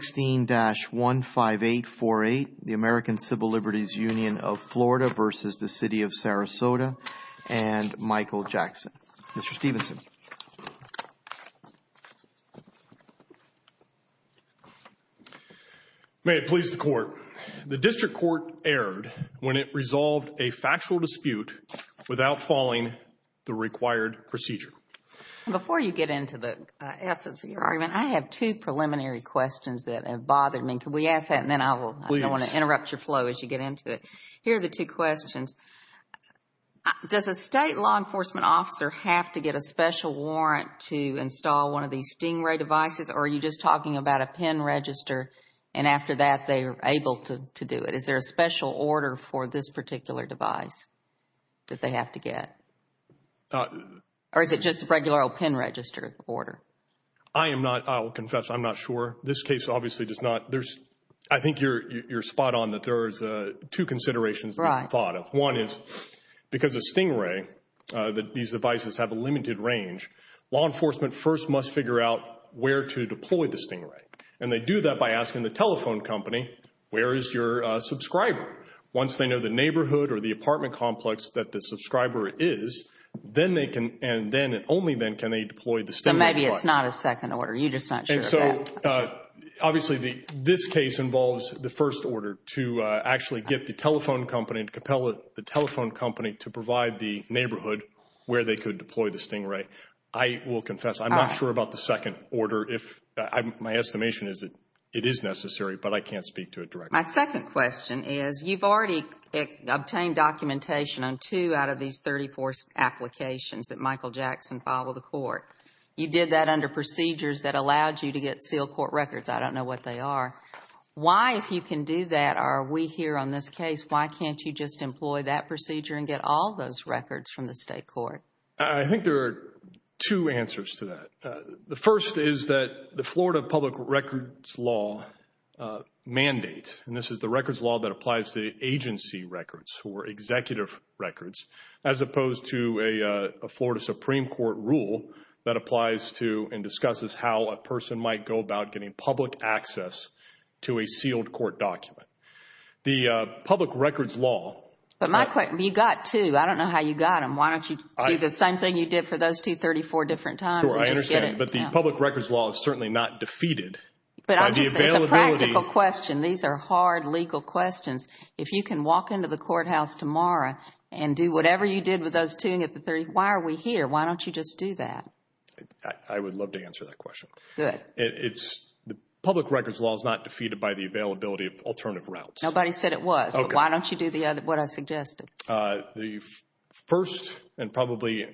16-15848, the American Civil Liberties Union of Florida v. the City of Sarasota, and Michael Jackson. Mr. Stevenson. May it please the Court. The District Court erred when it resolved a factual dispute without following the required procedure. Before you get into the essence of your argument, I have two preliminary questions that have bothered me. Can we ask that, and then I want to interrupt your flow as you get into it. Here are the two questions. Does a state law enforcement officer have to get a special warrant to install one of these Stingray devices, or are you just talking about a PIN register, and after that they are able to do it? Is there a special order for this particular device that they have to get? Or is it just a regular old PIN register order? I am not, I will confess, I'm not sure. This case obviously does not, there's, I think you're spot on that there is two considerations to be thought of. One is, because of Stingray, these devices have a limited range, law enforcement first must figure out where to deploy the Stingray. And they do that by asking the telephone company, where is your subscriber? Once they know the neighborhood or the apartment complex that the subscriber is, then they can, and then, and only then can they deploy the Stingray device. So maybe it's not a second order. You're just not sure of that. And so obviously this case involves the first order to actually get the telephone company, to compel the telephone company to provide the neighborhood where they could deploy the Stingray. I will confess, I'm not sure about the second order. My estimation is that it is necessary, but I can't speak to it directly. My second question is, you've already obtained documentation on two out of these 34 applications that Michael Jackson filed with the court. You did that under procedures that allowed you to get sealed court records. I don't know what they are. Why, if you can do that, are we here on this case, why can't you just employ that procedure and get all those records from the state court? I think there are two answers to that. The first is that the Florida public records law mandate, and this is the records law that applies to agency records or executive records, as opposed to a Florida Supreme Court rule that applies to and discusses how a person might go about getting public access to a sealed court document. The public records law. But my question, you got two. I don't know how you got them. Why don't you do the same thing you did for those two 34 different times? I understand, but the public records law is certainly not defeated. It's a practical question. These are hard legal questions. If you can walk into the courthouse tomorrow and do whatever you did with those two, why are we here? Why don't you just do that? I would love to answer that question. Good. The public records law is not defeated by the availability of alternative routes. Nobody said it was. Why don't you do what I suggested? The first and probably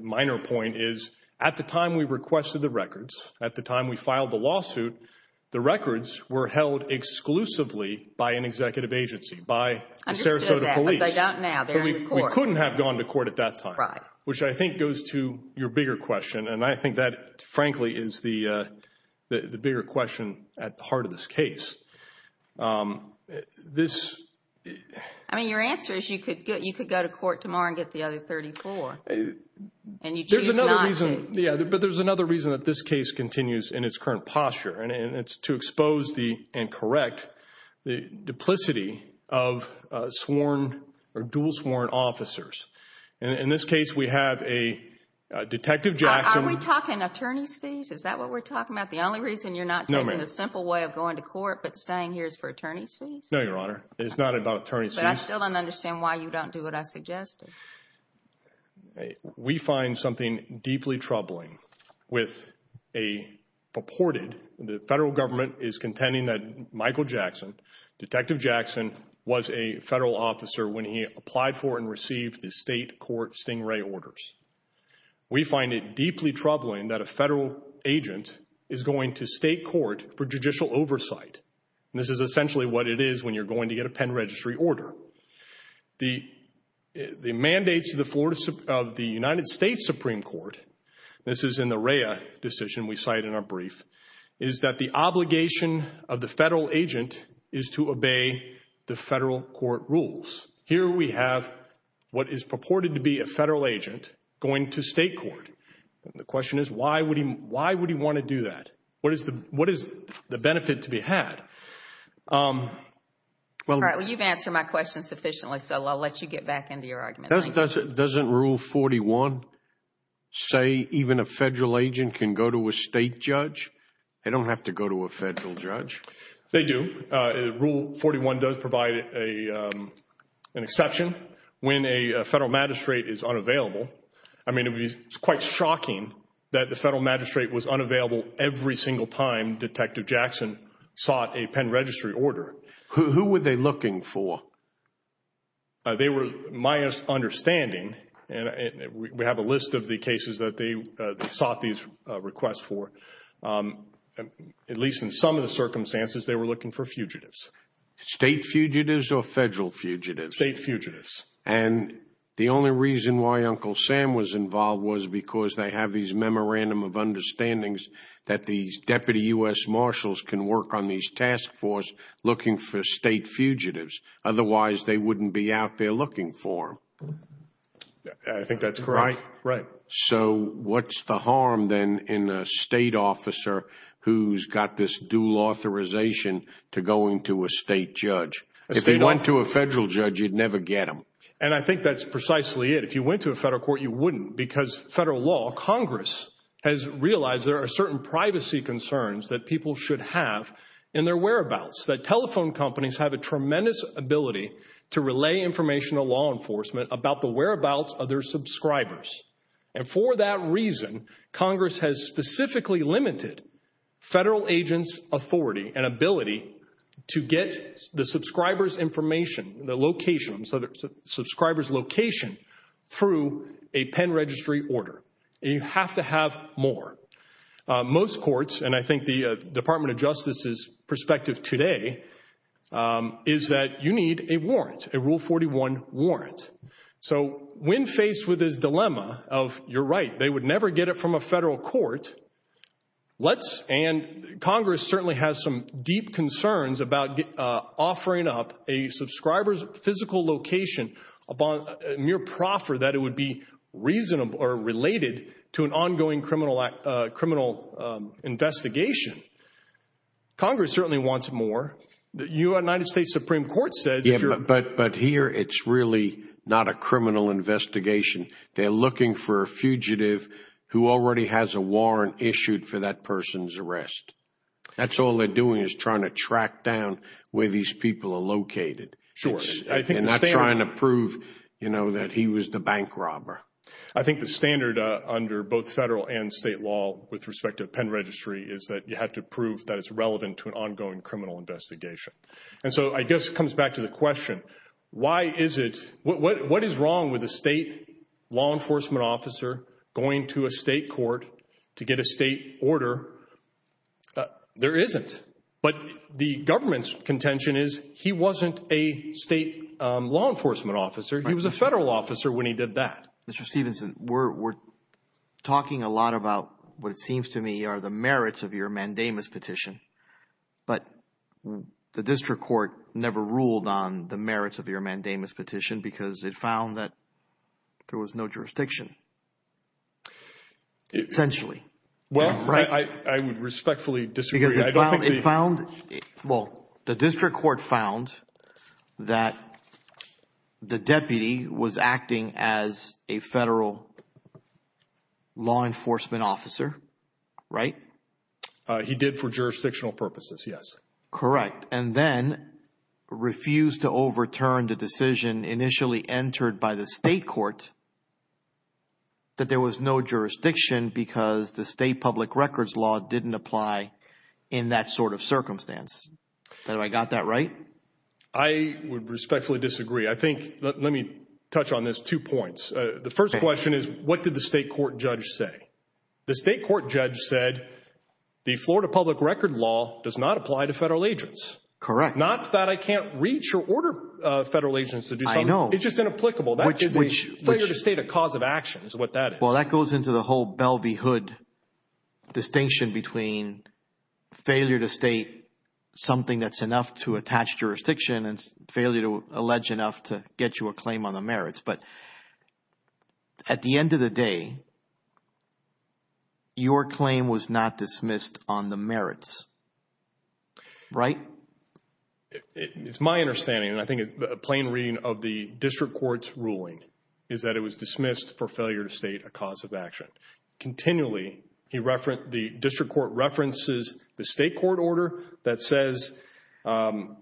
minor point is at the time we requested the records, at the time we filed the lawsuit, the records were held exclusively by an executive agency, by the Sarasota police. I understood that, but they don't now. They're in the court. We couldn't have gone to court at that time. Right. Which I think goes to your bigger question, and I think that frankly is the bigger question at the heart of this case. I mean, your answer is you could go to court tomorrow and get the other 34, and you choose not to. Yeah, but there's another reason that this case continues in its current posture, and it's to expose and correct the duplicity of sworn or dual sworn officers. In this case, we have a Detective Jackson. Are we talking attorney's fees? Is that what we're talking about? The only reason you're not taking a simple way of going to court, but staying here is for attorney's fees? No, Your Honor. It's not about attorney's fees. But I still don't understand why you don't do what I suggested. We find something deeply troubling with a purported, the federal government is contending that Michael Jackson, Detective Jackson was a federal officer when he applied for and received the state court stingray orders. We find it deeply troubling that a federal agent is going to state court for judicial oversight. This is essentially what it is when you're going to get a pen registry order. The mandates of the United States Supreme Court, this is in the Rhea decision we cite in our brief, is that the obligation of the federal agent is to obey the federal court rules. Here we have what is purported to be a federal agent going to state court. The question is why would he want to do that? What is the benefit to be had? You've answered my question sufficiently, so I'll let you get back into your argument. Doesn't Rule 41 say even a federal agent can go to a state judge? They don't have to go to a federal judge. They do. Rule 41 does provide an exception. When a federal magistrate is unavailable, I mean it's quite shocking that the federal magistrate was unavailable every single time Detective Jackson sought a pen registry order. Who were they looking for? They were, my understanding, and we have a list of the cases that they sought these requests for, at least in some of the circumstances they were looking for fugitives. State fugitives or federal fugitives? State fugitives. And the only reason why Uncle Sam was involved was because they have these memorandum of understandings that these Deputy U.S. Marshals can work on these task force looking for state fugitives. Otherwise, they wouldn't be out there looking for them. I think that's correct. Right? Right. So what's the harm then in a state officer who's got this dual authorization to go into a state judge? If they went to a federal judge, you'd never get them. And I think that's precisely it. If you went to a federal court, you wouldn't because federal law, Congress has realized there are certain privacy concerns that people should have in their whereabouts, that telephone companies have a tremendous ability to relay information to law enforcement about the whereabouts of their subscribers. And for that reason, Congress has specifically limited federal agents' authority and ability to get the subscriber's information, the location, the subscriber's location through a pen registry order. And you have to have more. Most courts, and I think the Department of Justice's perspective today, is that you need a warrant, a Rule 41 warrant. So when faced with this dilemma of, you're right, they would never get it from a federal court, and Congress certainly has some deep concerns about offering up a subscriber's physical location upon mere proffer that it would be related to an ongoing criminal investigation. Congress certainly wants more. The United States Supreme Court says if you're- But here, it's really not a criminal investigation. They're looking for a fugitive who already has a warrant issued for that person's arrest. That's all they're doing is trying to track down where these people are located. Sure. And not trying to prove that he was the bank robber. I think the standard under both federal and state law with respect to pen registry is that you have to prove that it's relevant to an ongoing criminal investigation. And so I guess it comes back to the question, why is it, what is wrong with a state law enforcement officer going to a state court to get a state order? There isn't. But the government's contention is he wasn't a state law enforcement officer. He was a federal officer when he did that. Mr. Stephenson, we're talking a lot about what it seems to me are the merits of your mandamus petition. But the district court never ruled on the merits of your mandamus petition because it found that there was no jurisdiction. Essentially. Well, I would respectfully disagree. Because it found, well, the district court found that the deputy was acting as a federal law enforcement officer, right? He did for jurisdictional purposes, yes. Correct. And then refused to overturn the decision initially entered by the state court that there was no jurisdiction because the state public records law didn't apply in that sort of circumstance. Have I got that right? I would respectfully disagree. I think, let me touch on this, two points. The first question is, what did the state court judge say? The state court judge said the Florida public record law does not apply to federal agents. Correct. Not that I can't reach or order federal agents to do something. I know. It's just inapplicable. That is a failure to state a cause of action is what that is. Well, that goes into the whole Bellevue hood distinction between failure to state something that's enough to attach jurisdiction and failure to allege enough to get you a claim on the merits. But at the end of the day, your claim was not dismissed on the merits, right? It's my understanding, and I think a plain reading of the district court's ruling, is that it was dismissed for failure to state a cause of action. Continually, the district court references the state court order that says Florida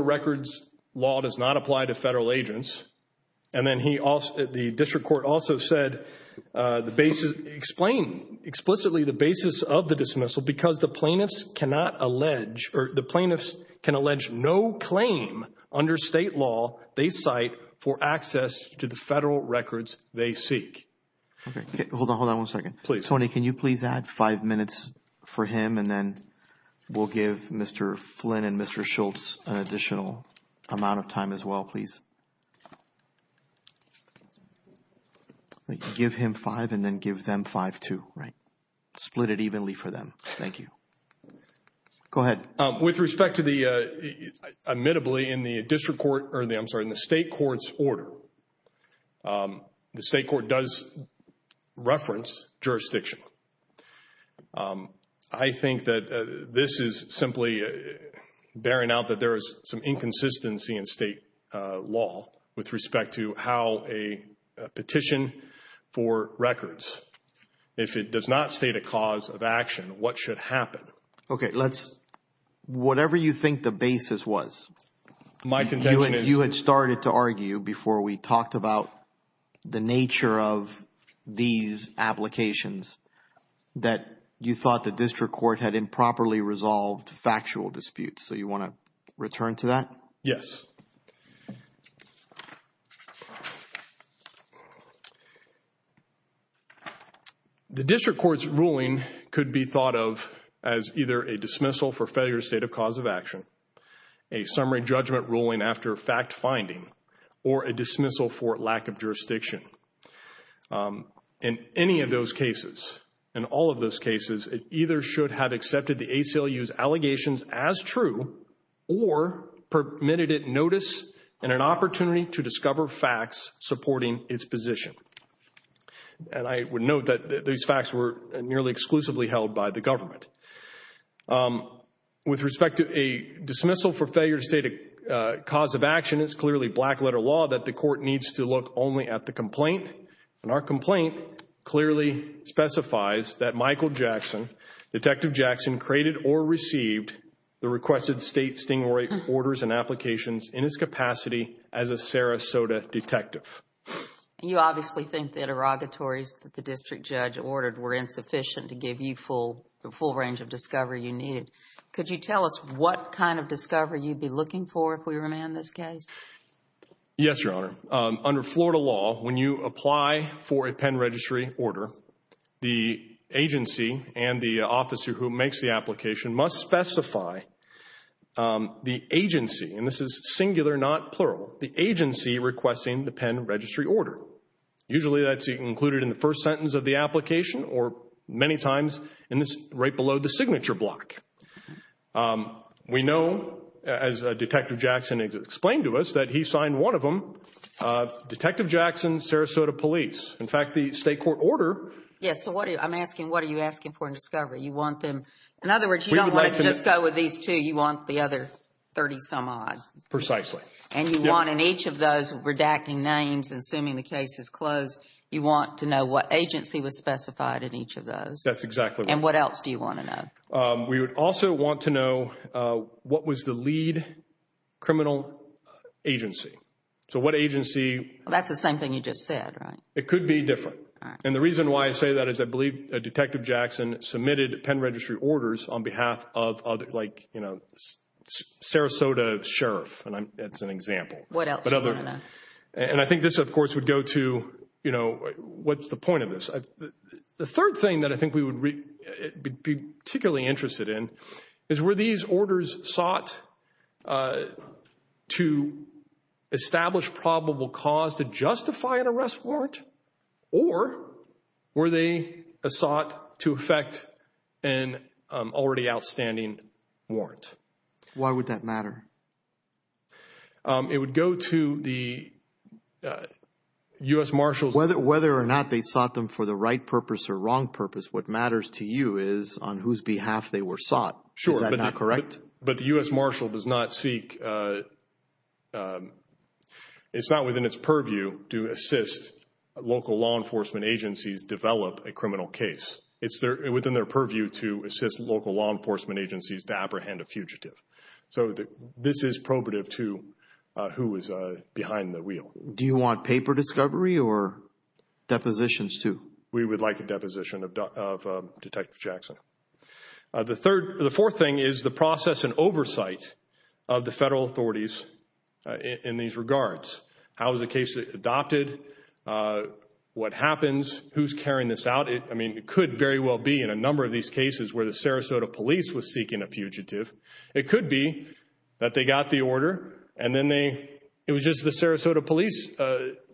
records law does not apply to federal agents. And then the district court also said, explain explicitly the basis of the dismissal because the plaintiffs cannot allege, or the plaintiffs can allege no claim under state law they cite for access to the federal records they seek. Hold on one second. Tony, can you please add five minutes for him and then we'll give Mr. Flynn and Mr. Schultz an additional amount of time as well, please? Give him five and then give them five too, right? Split it evenly for them. Thank you. Go ahead. With respect to the, admittably, in the district court, or I'm sorry, in the state court's order, the state court does reference jurisdiction. I think that this is simply bearing out that there is some inconsistency in state law with respect to how a petition for records, if it does not state a cause of action, what should happen? Okay, let's, whatever you think the basis was, you had started to argue before we talked about the nature of these applications that you thought the district court had improperly resolved factual disputes. So you want to return to that? Yes. The district court's ruling could be thought of as either a dismissal for failure to state a cause of action, a summary judgment ruling after fact finding, or a dismissal for lack of jurisdiction. In any of those cases, in all of those cases, it either should have accepted the ACLU's allegations as true or permitted it notice and an opportunity to discover facts supporting its position. And I would note that these facts were nearly exclusively held by the government. With respect to a dismissal for failure to state a cause of action, it's clearly black-letter law that the court needs to look only at the complaint. And our complaint clearly specifies that Michael Jackson, Detective Jackson, created or received the requested state sting orders and applications in its capacity as a Sarasota detective. And you obviously think the interrogatories that the district judge ordered were insufficient to give you the full range of discovery you needed. Could you tell us what kind of discovery you'd be looking for if we remand this case? Yes, Your Honor. Under Florida law, when you apply for a pen registry order, the agency and the officer who makes the application must specify the agency, and this is singular, not plural, the agency requesting the pen registry order. Usually that's included in the first sentence of the application or many times right below the signature block. We know, as Detective Jackson explained to us, that he signed one of them, Detective Jackson, Sarasota Police. In fact, the state court order... Yes, so I'm asking what are you asking for in discovery? You want them... In other words, you don't want to just go with these two. You want the other 30-some-odd. Precisely. And you want in each of those redacting names and assuming the case is closed, you want to know what agency was specified in each of those. That's exactly right. And what else do you want to know? We would also want to know what was the lead criminal agency. So what agency... That's the same thing you just said, right? It could be different. And the reason why I say that is I believe Detective Jackson submitted pen registry orders on behalf of Sarasota Sheriff, and that's an example. What else do you want to know? And I think this, of course, would go to what's the point of this. The third thing that I think we would be particularly interested in is were these orders sought to establish probable cause to justify an arrest warrant or were they sought to effect an already outstanding warrant? Why would that matter? It would go to the U.S. Marshals. Whether or not they sought them for the right purpose or wrong purpose, what matters to you is on whose behalf they were sought. Sure. Is that not correct? But the U.S. Marshal does not seek... It's not within its purview to assist local law enforcement agencies develop a criminal case. It's within their purview to assist local law enforcement agencies to apprehend a fugitive. So this is probative to who is behind the wheel. Do you want paper discovery or depositions too? We would like a deposition of Detective Jackson. The fourth thing is the process and oversight of the federal authorities in these regards. How is the case adopted? What happens? Who's carrying this out? It could very well be in a number of these cases where the Sarasota police was seeking a fugitive. It could be that they got the order and then it was just the Sarasota police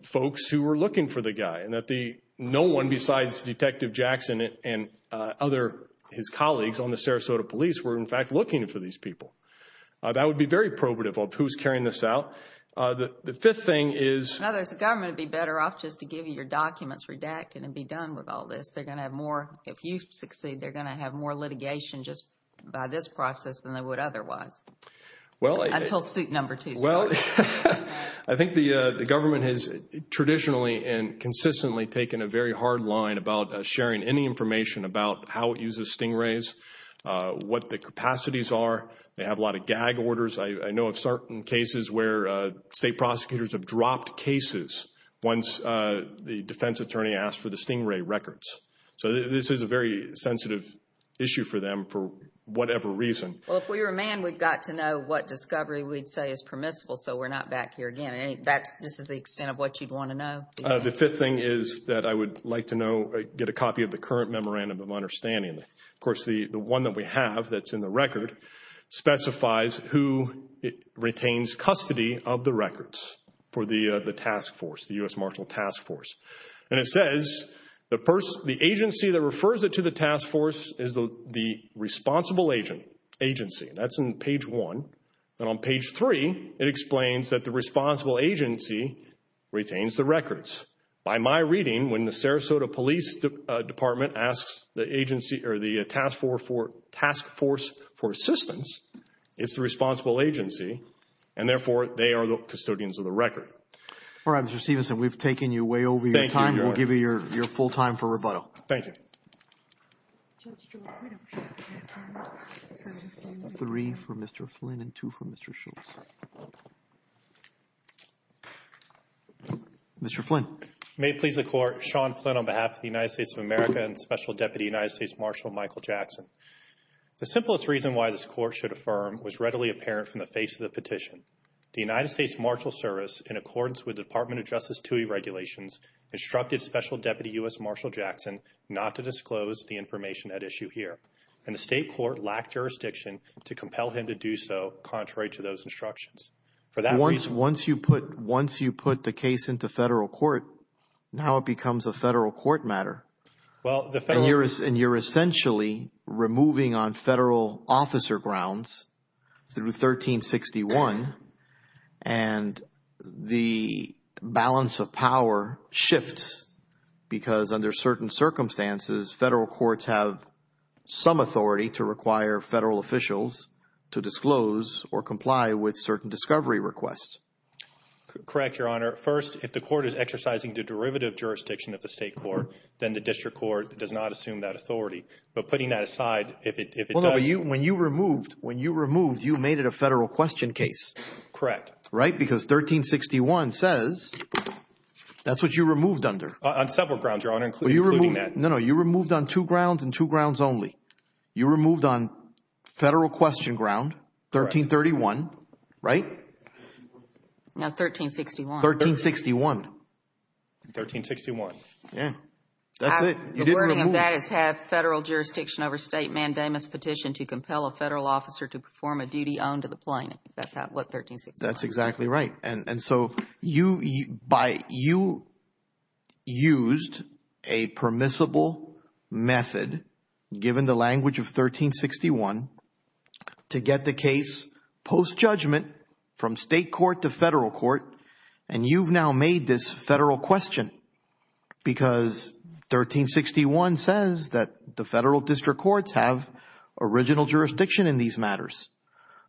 folks who were looking for the guy and that no one besides Detective Jackson and his colleagues on the Sarasota police were, in fact, looking for these people. That would be very probative of who's carrying this out. The fifth thing is... In other words, the government would be better off just to give you your documents redacted and be done with all this. They're going to have more. If you succeed, they're going to have more litigation just by this process than they would otherwise until suit number two starts. I think the government has traditionally and consistently taken a very hard line about sharing any information about how it uses stingrays, what the capacities are. They have a lot of gag orders. I know of certain cases where state prosecutors have dropped cases once the defense attorney asked for the stingray records. This is a very sensitive issue for them for whatever reason. If we were a man, we'd got to know what discovery we'd say is permissible so we're not back here again. This is the extent of what you'd want to know? The fifth thing is that I would like to get a copy of the current memorandum of understanding. Of course, the one that we have that's in the record specifies who retains custody of the records for the task force, the U.S. Marshall Task Force. It says the agency that refers it to the task force is the responsible agency. That's in page one. On page three, it explains that the responsible agency retains the records. By my reading, when the Sarasota Police Department asks the task force for assistance, it's the responsible agency, and therefore they are the custodians of the record. All right, Mr. Stevenson, we've taken you way over your time. We'll give you your full time for rebuttal. Thank you. Three for Mr. Flynn and two for Mr. Schultz. Mr. Flynn. May it please the Court, Sean Flynn on behalf of the United States of America and Special Deputy United States Marshal Michael Jackson. The simplest reason why this Court should affirm was readily apparent from the face of the petition. The United States Marshal Service, in accordance with the Department of Justice TUI regulations, instructed Special Deputy U.S. Marshal Jackson not to disclose the information at issue here, and the state court lacked jurisdiction to compel him to do so, contrary to those instructions. For that reason. Once you put the case into federal court, now it becomes a federal court matter. And you're essentially removing on federal officer grounds through 1361, and the balance of power shifts because under certain circumstances, federal courts have some authority to require federal officials to disclose or comply with certain discovery requests. Correct, Your Honor. First, if the court is exercising the derivative jurisdiction of the state court, then the district court does not assume that authority. But putting that aside, if it does. When you removed, when you removed, you made it a federal question case. Correct. Right, because 1361 says that's what you removed under. On several grounds, Your Honor, including that. No, no, you removed on two grounds and two grounds only. You removed on federal question ground, 1331, right? No, 1361. 1361. 1361. Yeah, that's it. The wording of that is have federal jurisdiction over state mandamus petition to compel a federal officer to perform a duty on to the plaintiff. That's what 1361 is. That's exactly right. And so you used a permissible method, given the language of 1361, to get the case post-judgment from state court to federal court, and you've now made this federal question because 1361 says that the federal district courts have original jurisdiction in these matters.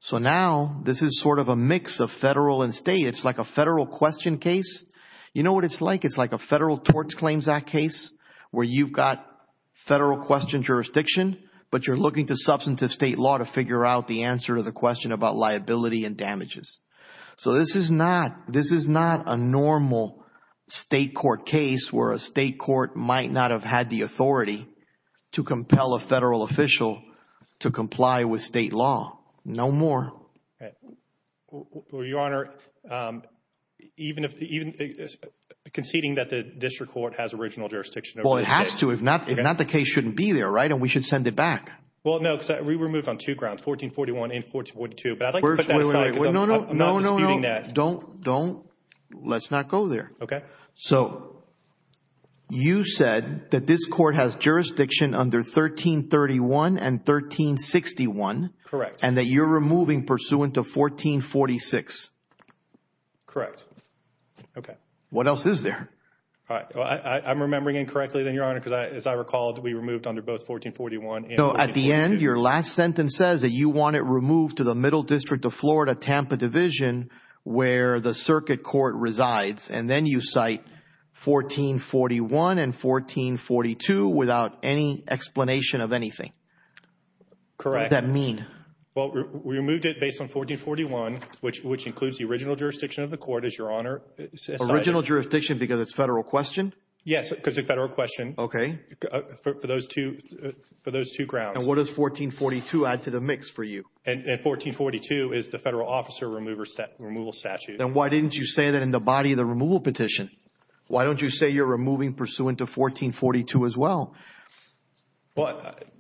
So now this is sort of a mix of federal and state. It's like a federal question case. You know what it's like? It's like a federal torts claims act case where you've got federal question jurisdiction, but you're looking to substantive state law to figure out the answer to the question about liability and damages. So this is not a normal state court case where a state court might not have had the authority to compel a federal official to comply with state law. No more. Your Honor, even conceding that the district court has original jurisdiction. Well, it has to. If not, the case shouldn't be there, right? And we should send it back. Well, no, because we were moved on two grounds, 1441 and 1442. But I'd like to put that aside because I'm not disputing that. No, no, no. Don't. Let's not go there. Okay. So you said that this court has jurisdiction under 1331 and 1361. Correct. And that you're removing pursuant to 1446. Correct. Okay. What else is there? I'm remembering incorrectly then, Your Honor, because as I recall, we removed under both 1441 and 1442. And your last sentence says that you want it removed to the Middle District of Florida Tampa Division where the circuit court resides. And then you cite 1441 and 1442 without any explanation of anything. Correct. What does that mean? Well, we removed it based on 1441, which includes the original jurisdiction of the court, as Your Honor. Original jurisdiction because it's federal question? Yes, because it's a federal question. Okay. For those two grounds. And what does 1442 add to the mix for you? And 1442 is the federal officer removal statute. Then why didn't you say that in the body of the removal petition? Why don't you say you're removing pursuant to 1442 as well?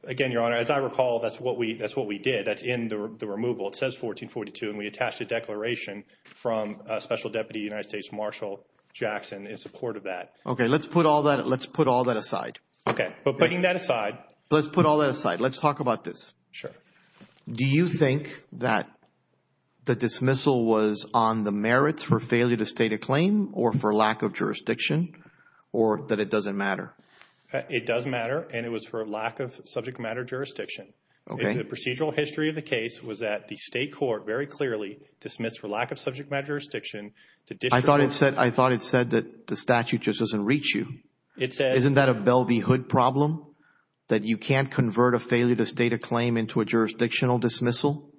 Again, Your Honor, as I recall, that's what we did. That's in the removal. It says 1442, and we attached a declaration from Special Deputy United States Marshal Jackson in support of that. Okay. Let's put all that aside. Okay. But putting that aside. Let's put all that aside. Let's talk about this. Sure. Do you think that the dismissal was on the merits for failure to state a claim or for lack of jurisdiction or that it doesn't matter? It does matter, and it was for lack of subject matter jurisdiction. Okay. The procedural history of the case was that the state court very clearly dismissed for lack of subject matter jurisdiction. I thought it said that the statute just doesn't reach you. Isn't that a Bell v. Hood problem that you can't convert a failure to state a claim into a jurisdictional dismissal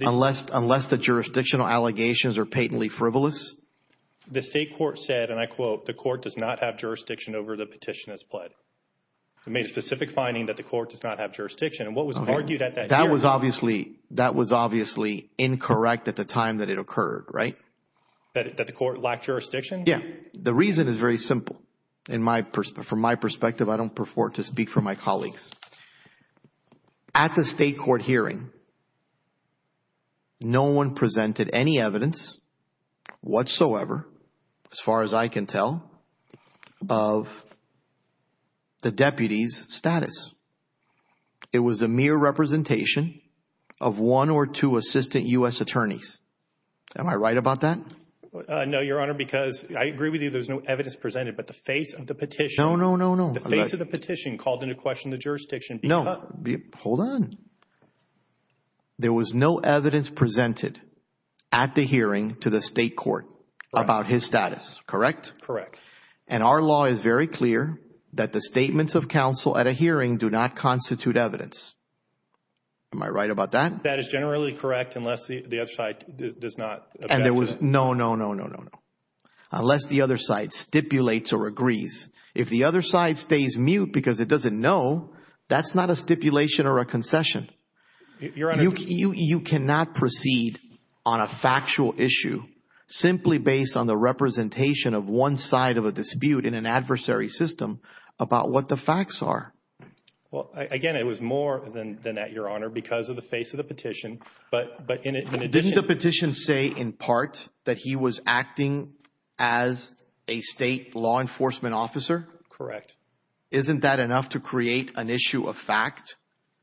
unless the jurisdictional allegations are patently frivolous? The state court said, and I quote, the court does not have jurisdiction over the petition as pled. It made a specific finding that the court does not have jurisdiction. And what was argued at that hearing? That was obviously incorrect at the time that it occurred, right? That the court lacked jurisdiction? Yeah. The reason is very simple. From my perspective, I don't prefer to speak for my colleagues. At the state court hearing, no one presented any evidence whatsoever, as far as I can tell, of the deputy's status. It was a mere representation of one or two assistant U.S. attorneys. Am I right about that? No, Your Honor, because I agree with you. There was no evidence presented, but the face of the petition. No, no, no, no. The face of the petition called into question the jurisdiction. No, hold on. There was no evidence presented at the hearing to the state court about his status, correct? Correct. And our law is very clear that the statements of counsel at a hearing do not constitute evidence. Am I right about that? That is generally correct unless the other side does not object to it. No, no, no, no, no, no. Unless the other side stipulates or agrees. If the other side stays mute because it doesn't know, that's not a stipulation or a concession. Your Honor. You cannot proceed on a factual issue simply based on the representation of one side of a dispute in an adversary system about what the facts are. Well, again, it was more than that, Your Honor, because of the face of the petition, but in addition. Did the petition say in part that he was acting as a state law enforcement officer? Correct. Isn't that enough to create an issue of fact?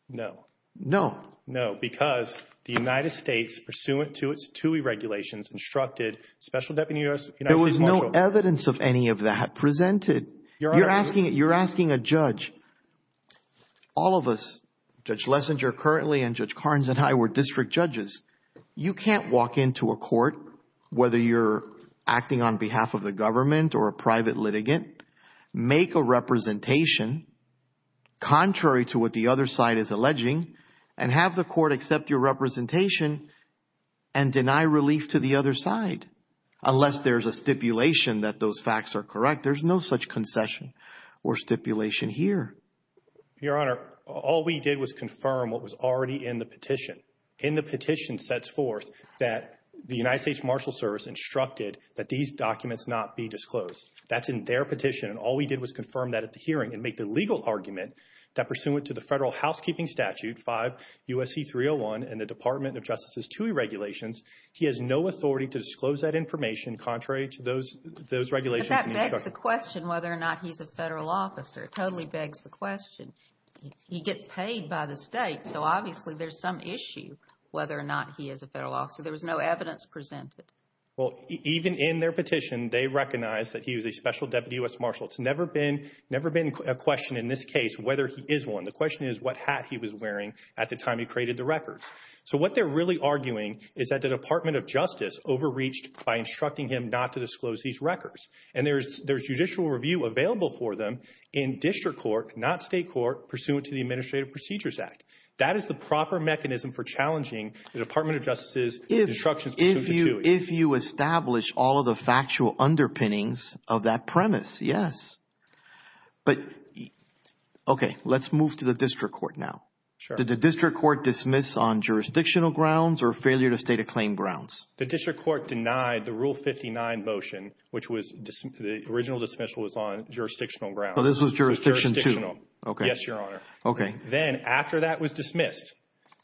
No. No. No, because the United States, pursuant to its TUI regulations, instructed Special Deputy U.S. There was no evidence of any of that presented. Your Honor. You're asking a judge. All of us, Judge Lessinger currently and Judge Carnes and I were district judges. You can't walk into a court, whether you're acting on behalf of the government or a private litigant, make a representation contrary to what the other side is alleging and have the court accept your representation and deny relief to the other side. Unless there's a stipulation that those facts are correct, there's no such concession or stipulation here. Your Honor. All we did was confirm what was already in the petition. In the petition sets forth that the United States Marshals Service instructed that these documents not be disclosed. That's in their petition. And all we did was confirm that at the hearing and make the legal argument that pursuant to the federal housekeeping statute, 5 U.S.C. 301, and the Department of Justice's TUI regulations, he has no authority to disclose that information contrary to those regulations. But that begs the question whether or not he's a federal officer. It totally begs the question. He gets paid by the state. So obviously there's some issue whether or not he is a federal officer. There was no evidence presented. Well, even in their petition, they recognize that he was a special deputy U.S. Marshal. It's never been a question in this case whether he is one. The question is what hat he was wearing at the time he created the records. So what they're really arguing is that the Department of Justice overreached by instructing him not to disclose these records. And there's judicial review available for them in district court, not state court, pursuant to the Administrative Procedures Act. That is the proper mechanism for challenging the Department of Justice's instructions pursuant to TUI. If you establish all of the factual underpinnings of that premise, yes. But, okay, let's move to the district court now. Sure. Did the district court dismiss on jurisdictional grounds or failure to state a claim grounds? The district court denied the Rule 59 motion, which was the original dismissal was on jurisdictional grounds. So this was jurisdictional too? Yes, Your Honor. Okay. Then after that was dismissed,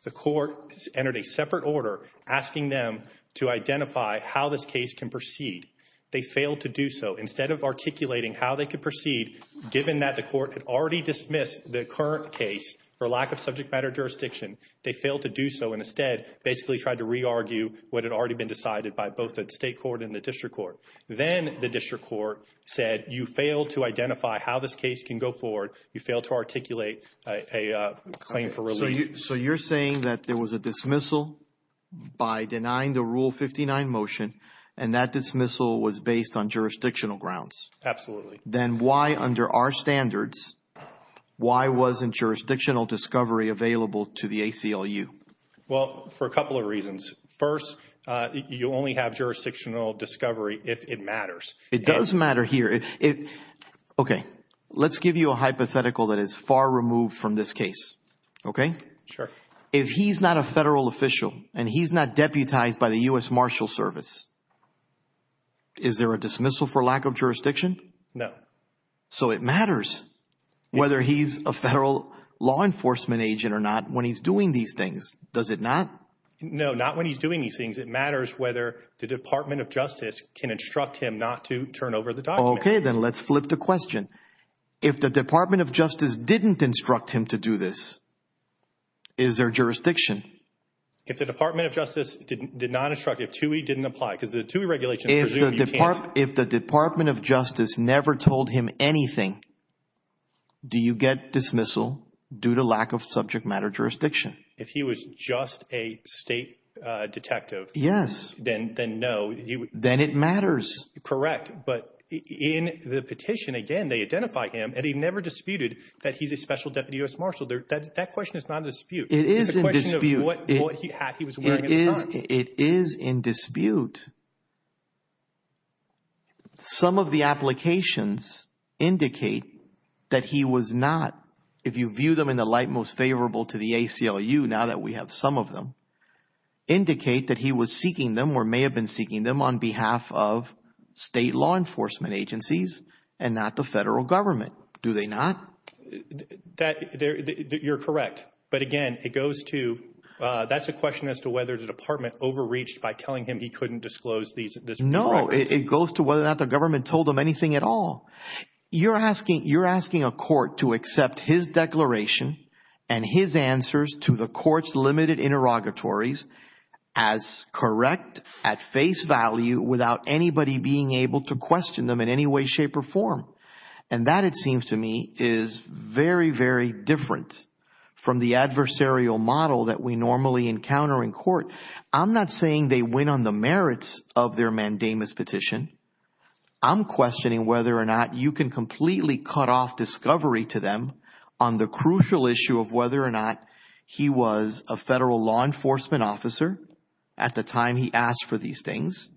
the court entered a separate order asking them to identify how this case can proceed. They failed to do so. Instead of articulating how they could proceed, given that the court had already dismissed the current case for lack of subject matter jurisdiction, they failed to do so and instead basically tried to re-argue what had already been decided by both the state court and the district court. Then the district court said, you failed to identify how this case can go forward. You failed to articulate a claim for release. So you're saying that there was a dismissal by denying the Rule 59 motion and that dismissal was based on jurisdictional grounds? Absolutely. Then why under our standards, why wasn't jurisdictional discovery available to the ACLU? Well, for a couple of reasons. First, you only have jurisdictional discovery if it matters. It does matter here. Okay. Let's give you a hypothetical that is far removed from this case. Okay? Sure. If he's not a federal official and he's not deputized by the U.S. Marshal Service, is there a dismissal for lack of jurisdiction? No. So it matters whether he's a federal law enforcement agent or not when he's doing these things. Does it not? No. Not when he's doing these things. It matters whether the Department of Justice can instruct him not to turn over the documents. Okay. Then let's flip the question. If the Department of Justice didn't instruct him to do this, is there jurisdiction? If the Department of Justice did not instruct him, if 2E didn't apply because the 2E regulations presume you can't. If the Department of Justice never told him anything, do you get dismissal due to lack of subject matter jurisdiction? If he was just a state detective. Yes. Then no. Then it matters. Correct. But in the petition, again, they identify him, and he never disputed that he's a special deputy U.S. Marshal. That question is not in dispute. It is in dispute. It's a question of what he was wearing at the time. It is in dispute. Some of the applications indicate that he was not, if you view them in the light most favorable to the ACLU now that we have some of them, indicate that he was seeking them or may have been seeking them on behalf of state law enforcement agencies and not the federal government. Do they not? You're correct. But, again, it goes to that's a question as to whether the department overreached by telling him he couldn't disclose these. No. It goes to whether or not the government told him anything at all. You're asking a court to accept his declaration and his answers to the court's limited interrogatories as correct at face value without anybody being able to question them in any way, shape, or form. And that, it seems to me, is very, very different from the adversarial model that we normally encounter in court. I'm not saying they win on the merits of their mandamus petition. I'm questioning whether or not you can completely cut off discovery to them on the crucial issue of whether or not he was a federal law enforcement officer at the time he asked for these things,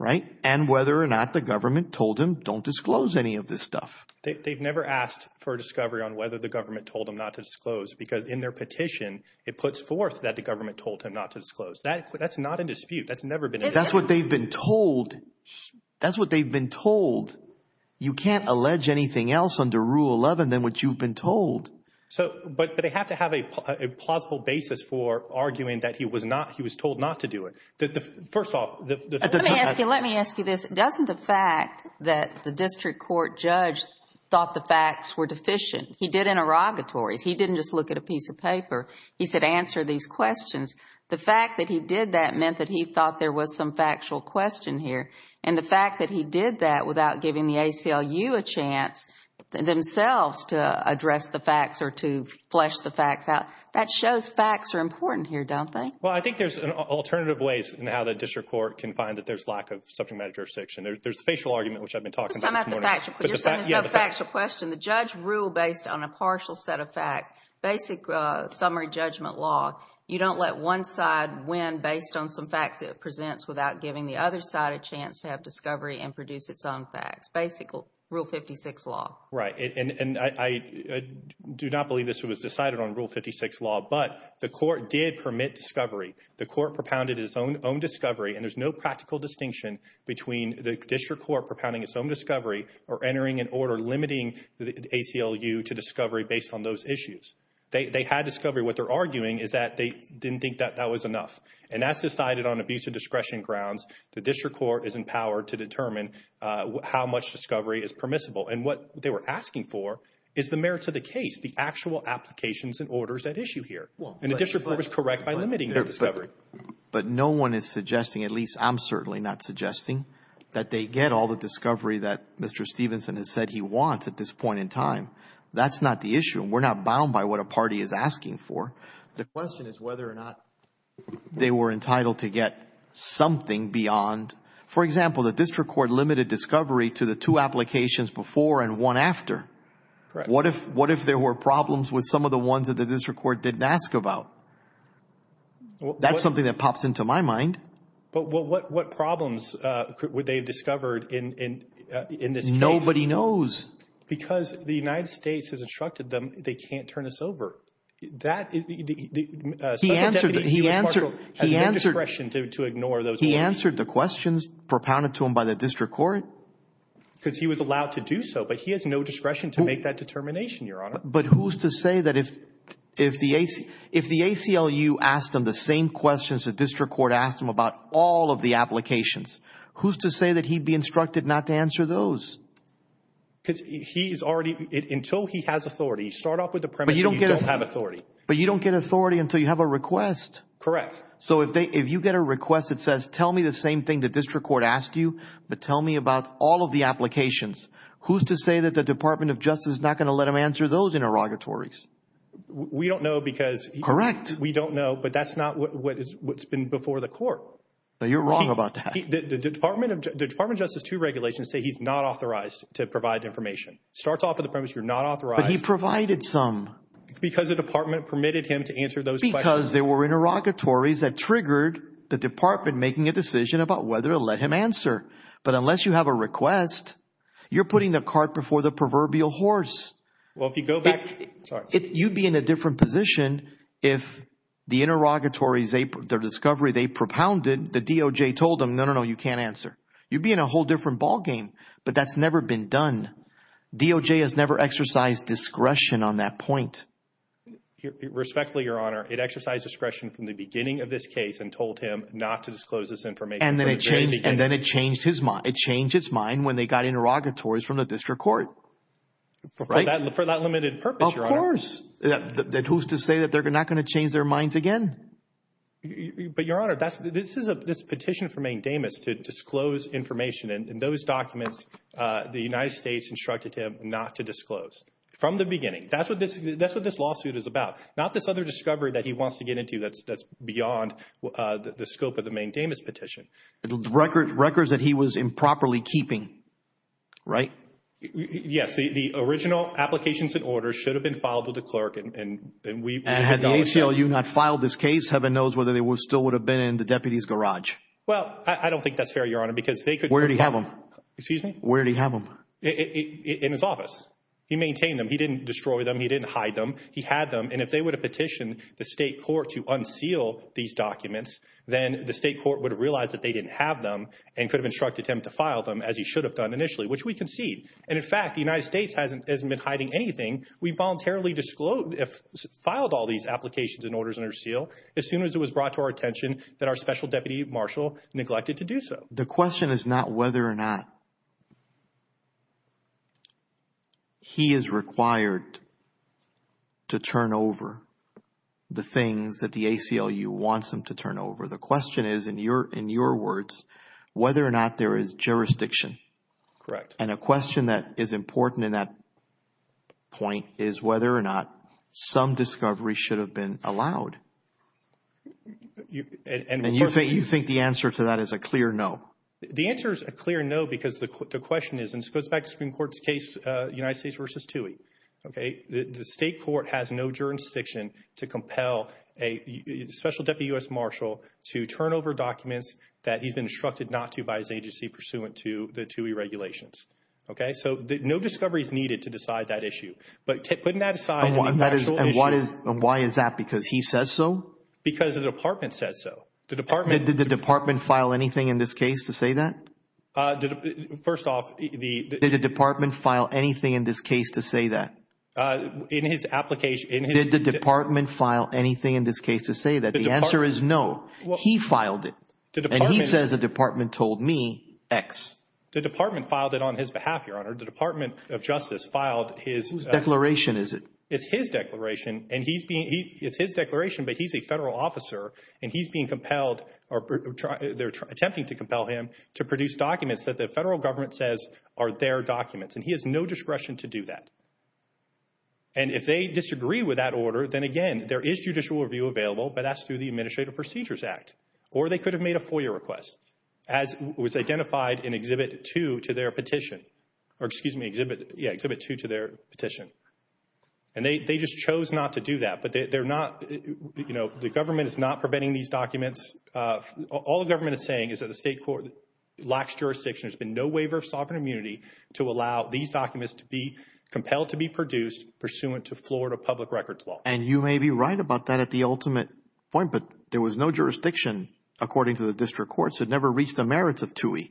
right, and whether or not the government told him don't disclose any of this stuff. They've never asked for a discovery on whether the government told him not to disclose because in their petition it puts forth that the government told him not to disclose. That's not in dispute. That's never been in dispute. That's what they've been told. That's what they've been told. You can't allege anything else under Rule 11 than what you've been told. But they have to have a plausible basis for arguing that he was told not to do it. First off. Let me ask you this. Doesn't the fact that the district court judge thought the facts were deficient? He did interrogatories. He didn't just look at a piece of paper. He said answer these questions. The fact that he did that meant that he thought there was some factual question here. And the fact that he did that without giving the ACLU a chance themselves to address the facts or to flesh the facts out, that shows facts are important here, don't they? Well, I think there's alternative ways in how the district court can find that there's lack of subject matter jurisdiction. There's the facial argument, which I've been talking about this morning. You're saying there's no factual question. The judge ruled based on a partial set of facts, basic summary judgment law. You don't let one side win based on some facts it presents without giving the other side a chance to have discovery and produce its own facts. Basic rule 56 law. Right. And I do not believe this was decided on rule 56 law. But the court did permit discovery. The court propounded its own discovery. And there's no practical distinction between the district court propounding its own discovery or entering an order limiting the ACLU to discovery based on those issues. They had discovery. What they're arguing is that they didn't think that that was enough. And that's decided on abuse of discretion grounds. The district court is in power to determine how much discovery is permissible. And what they were asking for is the merits of the case, the actual applications and orders at issue here. And the district court was correct by limiting their discovery. But no one is suggesting, at least I'm certainly not suggesting, that they get all the discovery that Mr. Stevenson has said he wants at this point in time. That's not the issue. We're not bound by what a party is asking for. The question is whether or not they were entitled to get something beyond. For example, the district court limited discovery to the two applications before and one after. Correct. What if there were problems with some of the ones that the district court didn't ask about? That's something that pops into my mind. But what problems would they have discovered in this case? Nobody knows. Because the United States has instructed them they can't turn this over. He answered the questions propounded to him by the district court. Because he was allowed to do so. But he has no discretion to make that determination, Your Honor. But who's to say that if the ACLU asked him the same questions the district court asked him about all of the applications, who's to say that he'd be instructed not to answer those? Because he's already, until he has authority, start off with the premise that you don't have authority. But you don't get authority until you have a request. Correct. So if you get a request that says tell me the same thing the district court asked you, but tell me about all of the applications, who's to say that the Department of Justice is not going to let him answer those interrogatories? We don't know because we don't know. Correct. But that's not what's been before the court. You're wrong about that. The Department of Justice II regulations say he's not authorized to provide information. Starts off with the premise you're not authorized. But he provided some. Because the department permitted him to answer those questions. Because there were interrogatories that triggered the department making a decision about whether to let him answer. But unless you have a request, you're putting the cart before the proverbial horse. Well, if you go back, sorry. You'd be in a different position if the interrogatories, their discovery they propounded, the DOJ told them, no, no, no, you can't answer. You'd be in a whole different ballgame. But that's never been done. DOJ has never exercised discretion on that point. Respectfully, Your Honor, it exercised discretion from the beginning of this case and told him not to disclose this information. And then it changed his mind. It changed his mind when they got interrogatories from the district court. For that limited purpose, Your Honor. Of course. Then who's to say that they're not going to change their minds again? But, Your Honor, this is a petition for Mank Damas to disclose information. And those documents, the United States instructed him not to disclose from the beginning. That's what this lawsuit is about. Not this other discovery that he wants to get into that's beyond the scope of the Mank Damas petition. Records that he was improperly keeping, right? Yes. The original applications and orders should have been filed with the clerk. Had the ACLU not filed this case, heaven knows whether they still would have been in the deputy's garage. Well, I don't think that's fair, Your Honor. Where did he have them? Excuse me? Where did he have them? In his office. He maintained them. He didn't destroy them. He didn't hide them. He had them. And if they would have petitioned the state court to unseal these documents, then the state court would have realized that they didn't have them and could have instructed him to file them as he should have done initially, which we concede. And, in fact, the United States hasn't been hiding anything. We voluntarily filed all these applications and orders under seal as soon as it was brought to our attention that our special deputy marshal neglected to do so. The question is not whether or not he is required to turn over the things that the ACLU wants him to turn over. The question is, in your words, whether or not there is jurisdiction. Correct. And a question that is important in that point is whether or not some discovery should have been allowed. And you think the answer to that is a clear no. The answer is a clear no because the question is, and this goes back to the Supreme Court's case, United States v. Toohey. The state court has no jurisdiction to compel a special deputy U.S. marshal to turn over documents that he's been instructed not to by his agency pursuant to the Toohey regulations. Okay? So no discovery is needed to decide that issue. But putting that aside. And why is that? Because he says so? Because the department says so. Did the department file anything in this case to say that? First off, the – Did the department file anything in this case to say that? In his application – Did the department file anything in this case to say that? The answer is no. He filed it. And he says the department told me X. The department filed it on his behalf, Your Honor. The Department of Justice filed his – Whose declaration is it? It's his declaration, and he's being – it's his declaration, but he's a federal officer, and he's being compelled – or they're attempting to compel him to produce documents that the federal government says are their documents. And he has no discretion to do that. And if they disagree with that order, then, again, there is judicial review available, but that's through the Administrative Procedures Act. Or they could have made a FOIA request, as was identified in Exhibit 2 to their petition. Or, excuse me, Exhibit – yeah, Exhibit 2 to their petition. And they just chose not to do that. But they're not – you know, the government is not preventing these documents. All the government is saying is that the state court lacks jurisdiction. There's been no waiver of sovereign immunity to allow these documents to be compelled to be produced pursuant to Florida public records law. And you may be right about that at the ultimate point, but there was no jurisdiction, according to the district courts. It never reached the merits of TUI.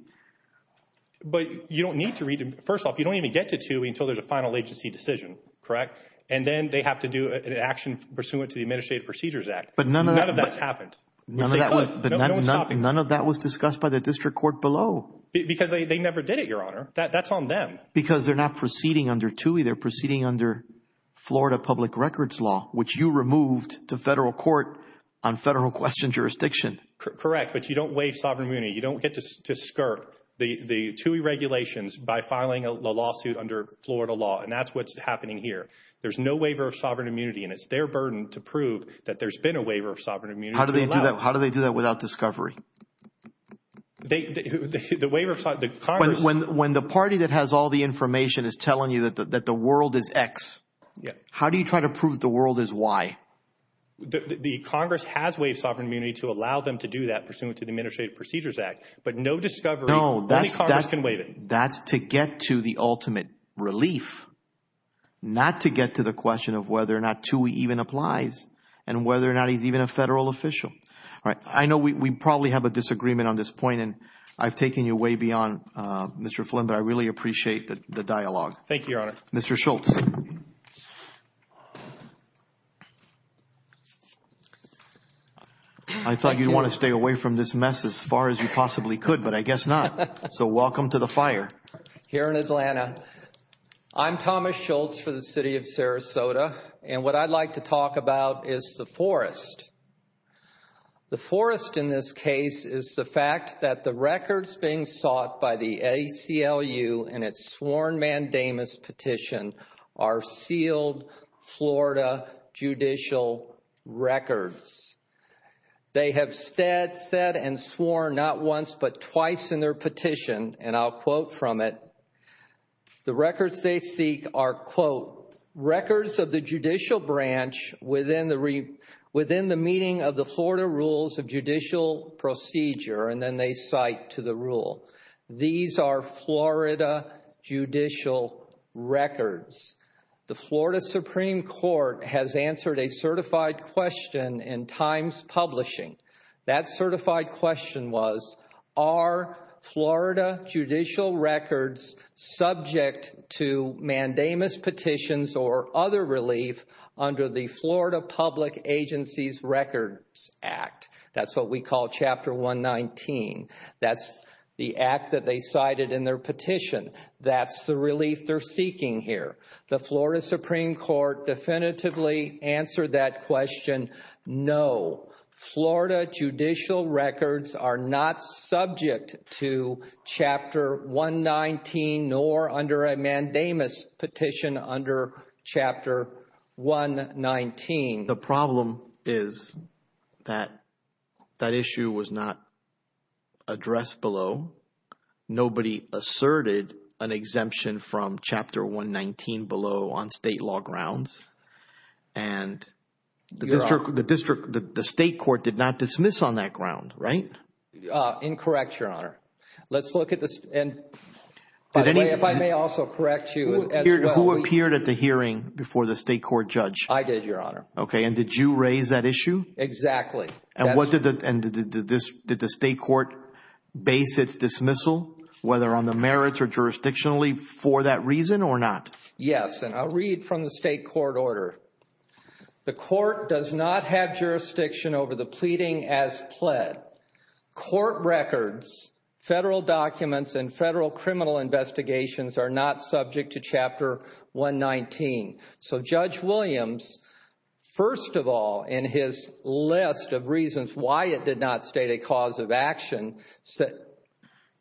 But you don't need to read – first off, you don't even get to TUI until there's a final agency decision, correct? And then they have to do an action pursuant to the Administrative Procedures Act. But none of that – None of that's happened. None of that was – No one's stopping them. None of that was discussed by the district court below. Because they never did it, Your Honor. That's on them. Because they're not proceeding under TUI. They're proceeding under Florida public records law, which you removed to federal court on federal question jurisdiction. Correct. But you don't waive sovereign immunity. You don't get to skirt the TUI regulations by filing a lawsuit under Florida law. And that's what's happening here. There's no waiver of sovereign immunity, and it's their burden to prove that there's been a waiver of sovereign immunity. How do they do that? How do they do that without discovery? The waiver of – When the party that has all the information is telling you that the world is X, how do you try to prove the world is Y? The Congress has waived sovereign immunity to allow them to do that pursuant to the Administrative Procedures Act. But no discovery – No, that's – Only Congress can waive it. That's to get to the ultimate relief, not to get to the question of whether or not TUI even applies and whether or not he's even a federal official. All right. I know we probably have a disagreement on this point, and I've taken you way beyond, Mr. Flynn, but I really appreciate the dialogue. Thank you, Your Honor. Mr. Schultz. I thought you'd want to stay away from this mess as far as you possibly could, but I guess not. So welcome to the fire. Here in Atlanta. I'm Thomas Schultz for the city of Sarasota, and what I'd like to talk about is the forest. The forest in this case is the fact that the records being sought by the ACLU in its sworn mandamus petition are sealed Florida judicial records. They have said and sworn not once but twice in their petition, and I'll quote from it. The records they seek are, quote, records of the judicial branch within the meeting of the Florida Rules of Judicial Procedure, and then they cite to the rule. These are Florida judicial records. The Florida Supreme Court has answered a certified question in Times Publishing. That certified question was, are Florida judicial records subject to mandamus petitions or other relief under the Florida Public Agencies Records Act? That's what we call Chapter 119. That's the act that they cited in their petition. That's the relief they're seeking here. The Florida Supreme Court definitively answered that question. No, Florida judicial records are not subject to Chapter 119 nor under a mandamus petition under Chapter 119. The problem is that that issue was not addressed below. Nobody asserted an exemption from Chapter 119 below on state law grounds, and the district, the state court did not dismiss on that ground, right? Incorrect, Your Honor. Let's look at this, and by the way, if I may also correct you as well. Who appeared at the hearing before the state court judge? I did, Your Honor. Okay, and did you raise that issue? Exactly. And did the state court base its dismissal, whether on the merits or jurisdictionally, for that reason or not? Yes, and I'll read from the state court order. The court does not have jurisdiction over the pleading as pled. Court records, federal documents, and federal criminal investigations are not subject to Chapter 119. So Judge Williams, first of all, in his list of reasons why it did not state a cause of action,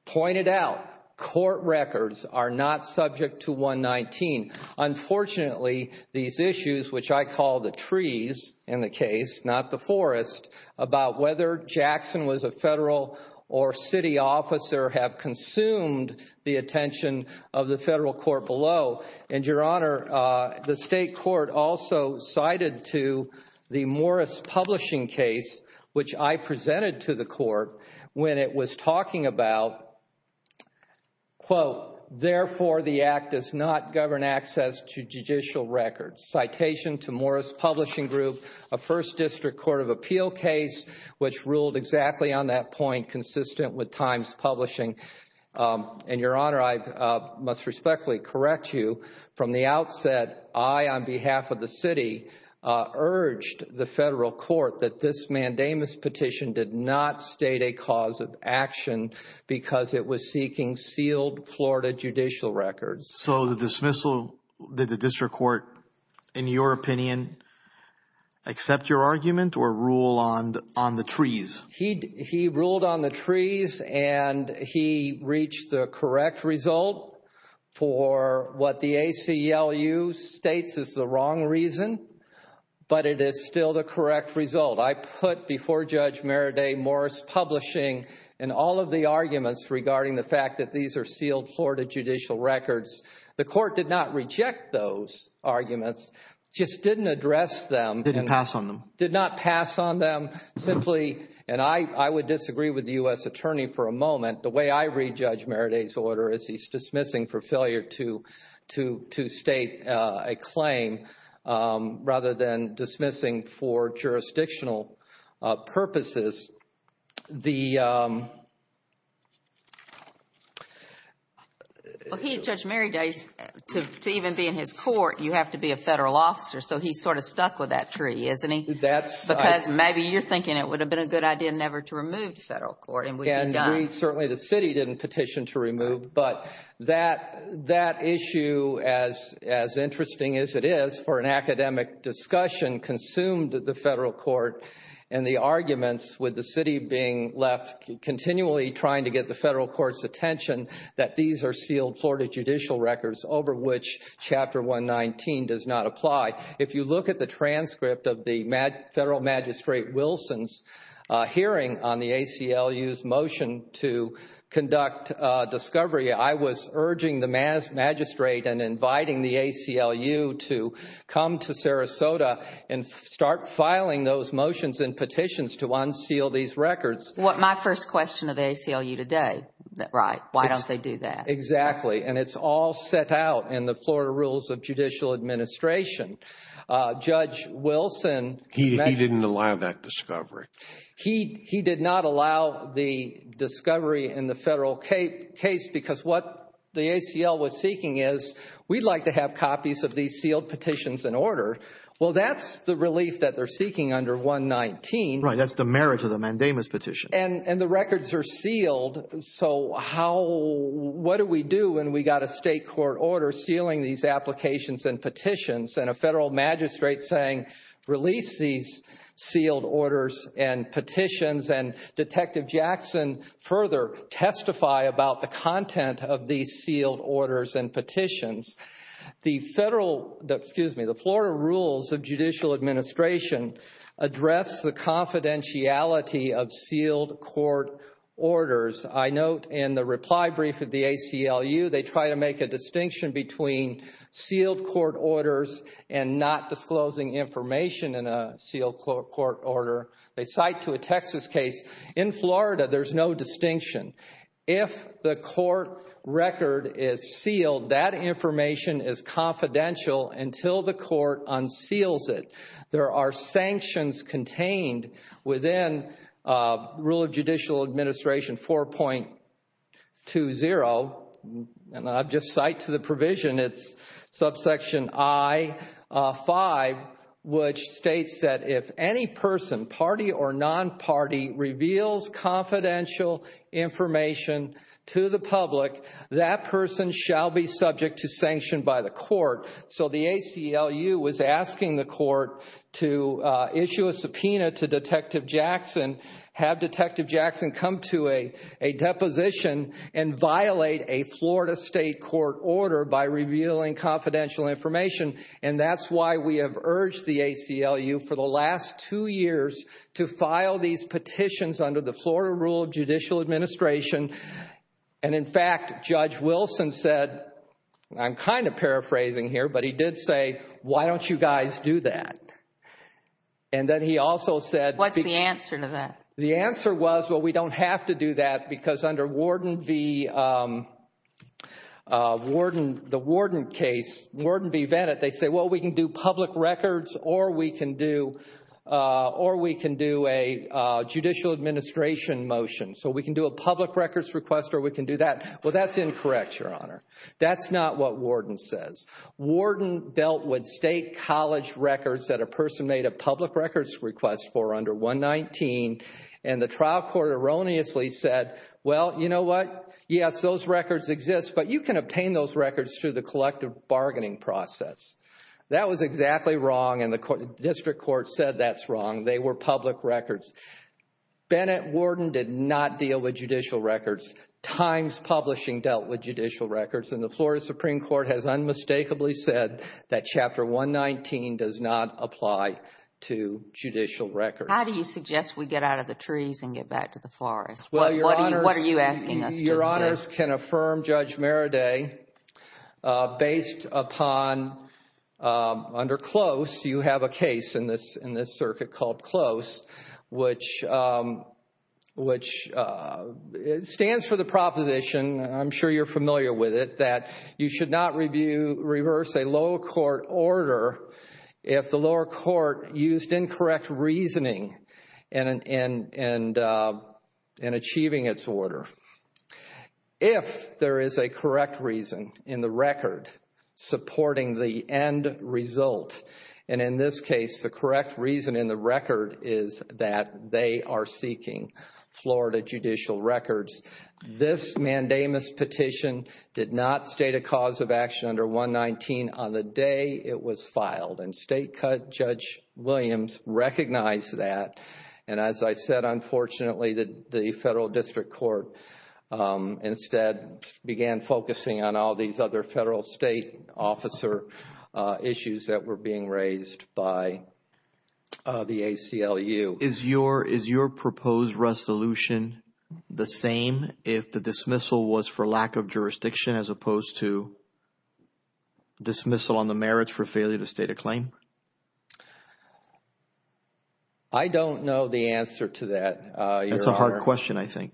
pointed out court records are not subject to 119. Unfortunately, these issues, which I call the trees in the case, not the forest, about whether Jackson was a federal or city officer have consumed the attention of the federal court below. And, Your Honor, the state court also cited to the Morris Publishing case, which I presented to the court, when it was talking about, quote, therefore the act does not govern access to judicial records. Citation to Morris Publishing Group, a First District Court of Appeal case, which ruled exactly on that point, consistent with Times Publishing. And, Your Honor, I must respectfully correct you. From the outset, I, on behalf of the city, urged the federal court that this mandamus petition did not state a cause of action because it was seeking sealed Florida judicial records. So the dismissal, did the district court, in your opinion, accept your argument or rule on the trees? He ruled on the trees and he reached the correct result for what the ACLU states is the wrong reason, but it is still the correct result. I put before Judge Meredith Morris Publishing and all of the arguments regarding the fact that these are sealed Florida judicial records. The court did not reject those arguments, just didn't address them. Didn't pass on them. Did not pass on them, simply, and I would disagree with the U.S. attorney for a moment. The way I read Judge Meredith's order is he's dismissing for failure to state a claim rather than dismissing for jurisdictional purposes. The... Well, he and Judge Meredith, to even be in his court, you have to be a federal officer, so he's sort of stuck with that tree, isn't he? That's... Because maybe you're thinking it would have been a good idea never to remove the federal court and we'd be done. I agree, certainly the city didn't petition to remove, but that issue, as interesting as it is for an academic discussion, consumed the federal court and the arguments with the city being left continually trying to get the federal court's attention that these are sealed Florida judicial records over which Chapter 119 does not apply. If you look at the transcript of the federal magistrate Wilson's hearing on the ACLU's motion to conduct discovery, I was urging the magistrate and inviting the ACLU to come to Sarasota and start filing those motions and petitions to unseal these records. My first question of the ACLU today, right, why don't they do that? Exactly, and it's all set out in the Florida Rules of Judicial Administration. Judge Wilson... He didn't allow that discovery. He did not allow the discovery in the federal case because what the ACL was seeking is, we'd like to have copies of these sealed petitions in order. Well, that's the relief that they're seeking under 119. Right, that's the merit of the mandamus petition. And the records are sealed, so what do we do when we've got a state court order sealing these applications and petitions and a federal magistrate saying release these sealed orders and petitions and Detective Jackson further testify about the content of these sealed orders and petitions. The Florida Rules of Judicial Administration address the confidentiality of sealed court orders. I note in the reply brief of the ACLU, they try to make a distinction between sealed court orders and not disclosing information in a sealed court order. They cite to a Texas case. In Florida, there's no distinction. If the court record is sealed, that information is confidential until the court unseals it. There are sanctions contained within Rule of Judicial Administration 4.20, and I'll just cite to the provision, it's subsection I-5, which states that if any person, party or non-party, reveals confidential information to the public, that person shall be subject to sanction by the court. So the ACLU was asking the court to issue a subpoena to Detective Jackson, have Detective Jackson come to a deposition and violate a Florida state court order by revealing confidential information. And that's why we have urged the ACLU for the last two years to file these petitions under the Florida Rule of Judicial Administration. And in fact, Judge Wilson said, I'm kind of paraphrasing here, but he did say, why don't you guys do that? And then he also said, What's the answer to that? The answer was, well, we don't have to do that because under Warden v. Bennett, they say, well, we can do public records or we can do a judicial administration motion. So we can do a public records request or we can do that. Well, that's incorrect, Your Honor. That's not what Warden says. Warden dealt with state college records that a person made a public records request for under 119, and the trial court erroneously said, well, you know what? Yes, those records exist, but you can obtain those records through the collective bargaining process. That was exactly wrong, and the district court said that's wrong. They were public records. Bennett, Warden did not deal with judicial records. Times Publishing dealt with judicial records, and the Florida Supreme Court has unmistakably said that Chapter 119 does not apply to judicial records. How do you suggest we get out of the trees and get back to the forest? What are you asking us to do? Your Honors, can Affirm Judge Maraday, based upon under CLOSE, you have a case in this circuit called CLOSE, which stands for the proposition, I'm sure you're familiar with it, that you should not reverse a lower court order if the lower court used incorrect reasoning in achieving its order. If there is a correct reason in the record supporting the end result, and in this case the correct reason in the record is that they are seeking Florida judicial records, this mandamus petition did not state a cause of action under 119 on the day it was filed, and State Judge Williams recognized that, and as I said, unfortunately, the federal district court instead began focusing on all these other federal state officer issues that were being raised by the ACLU. So is your proposed resolution the same if the dismissal was for lack of jurisdiction as opposed to dismissal on the merits for failure to state a claim? I don't know the answer to that, Your Honor. That's a hard question, I think.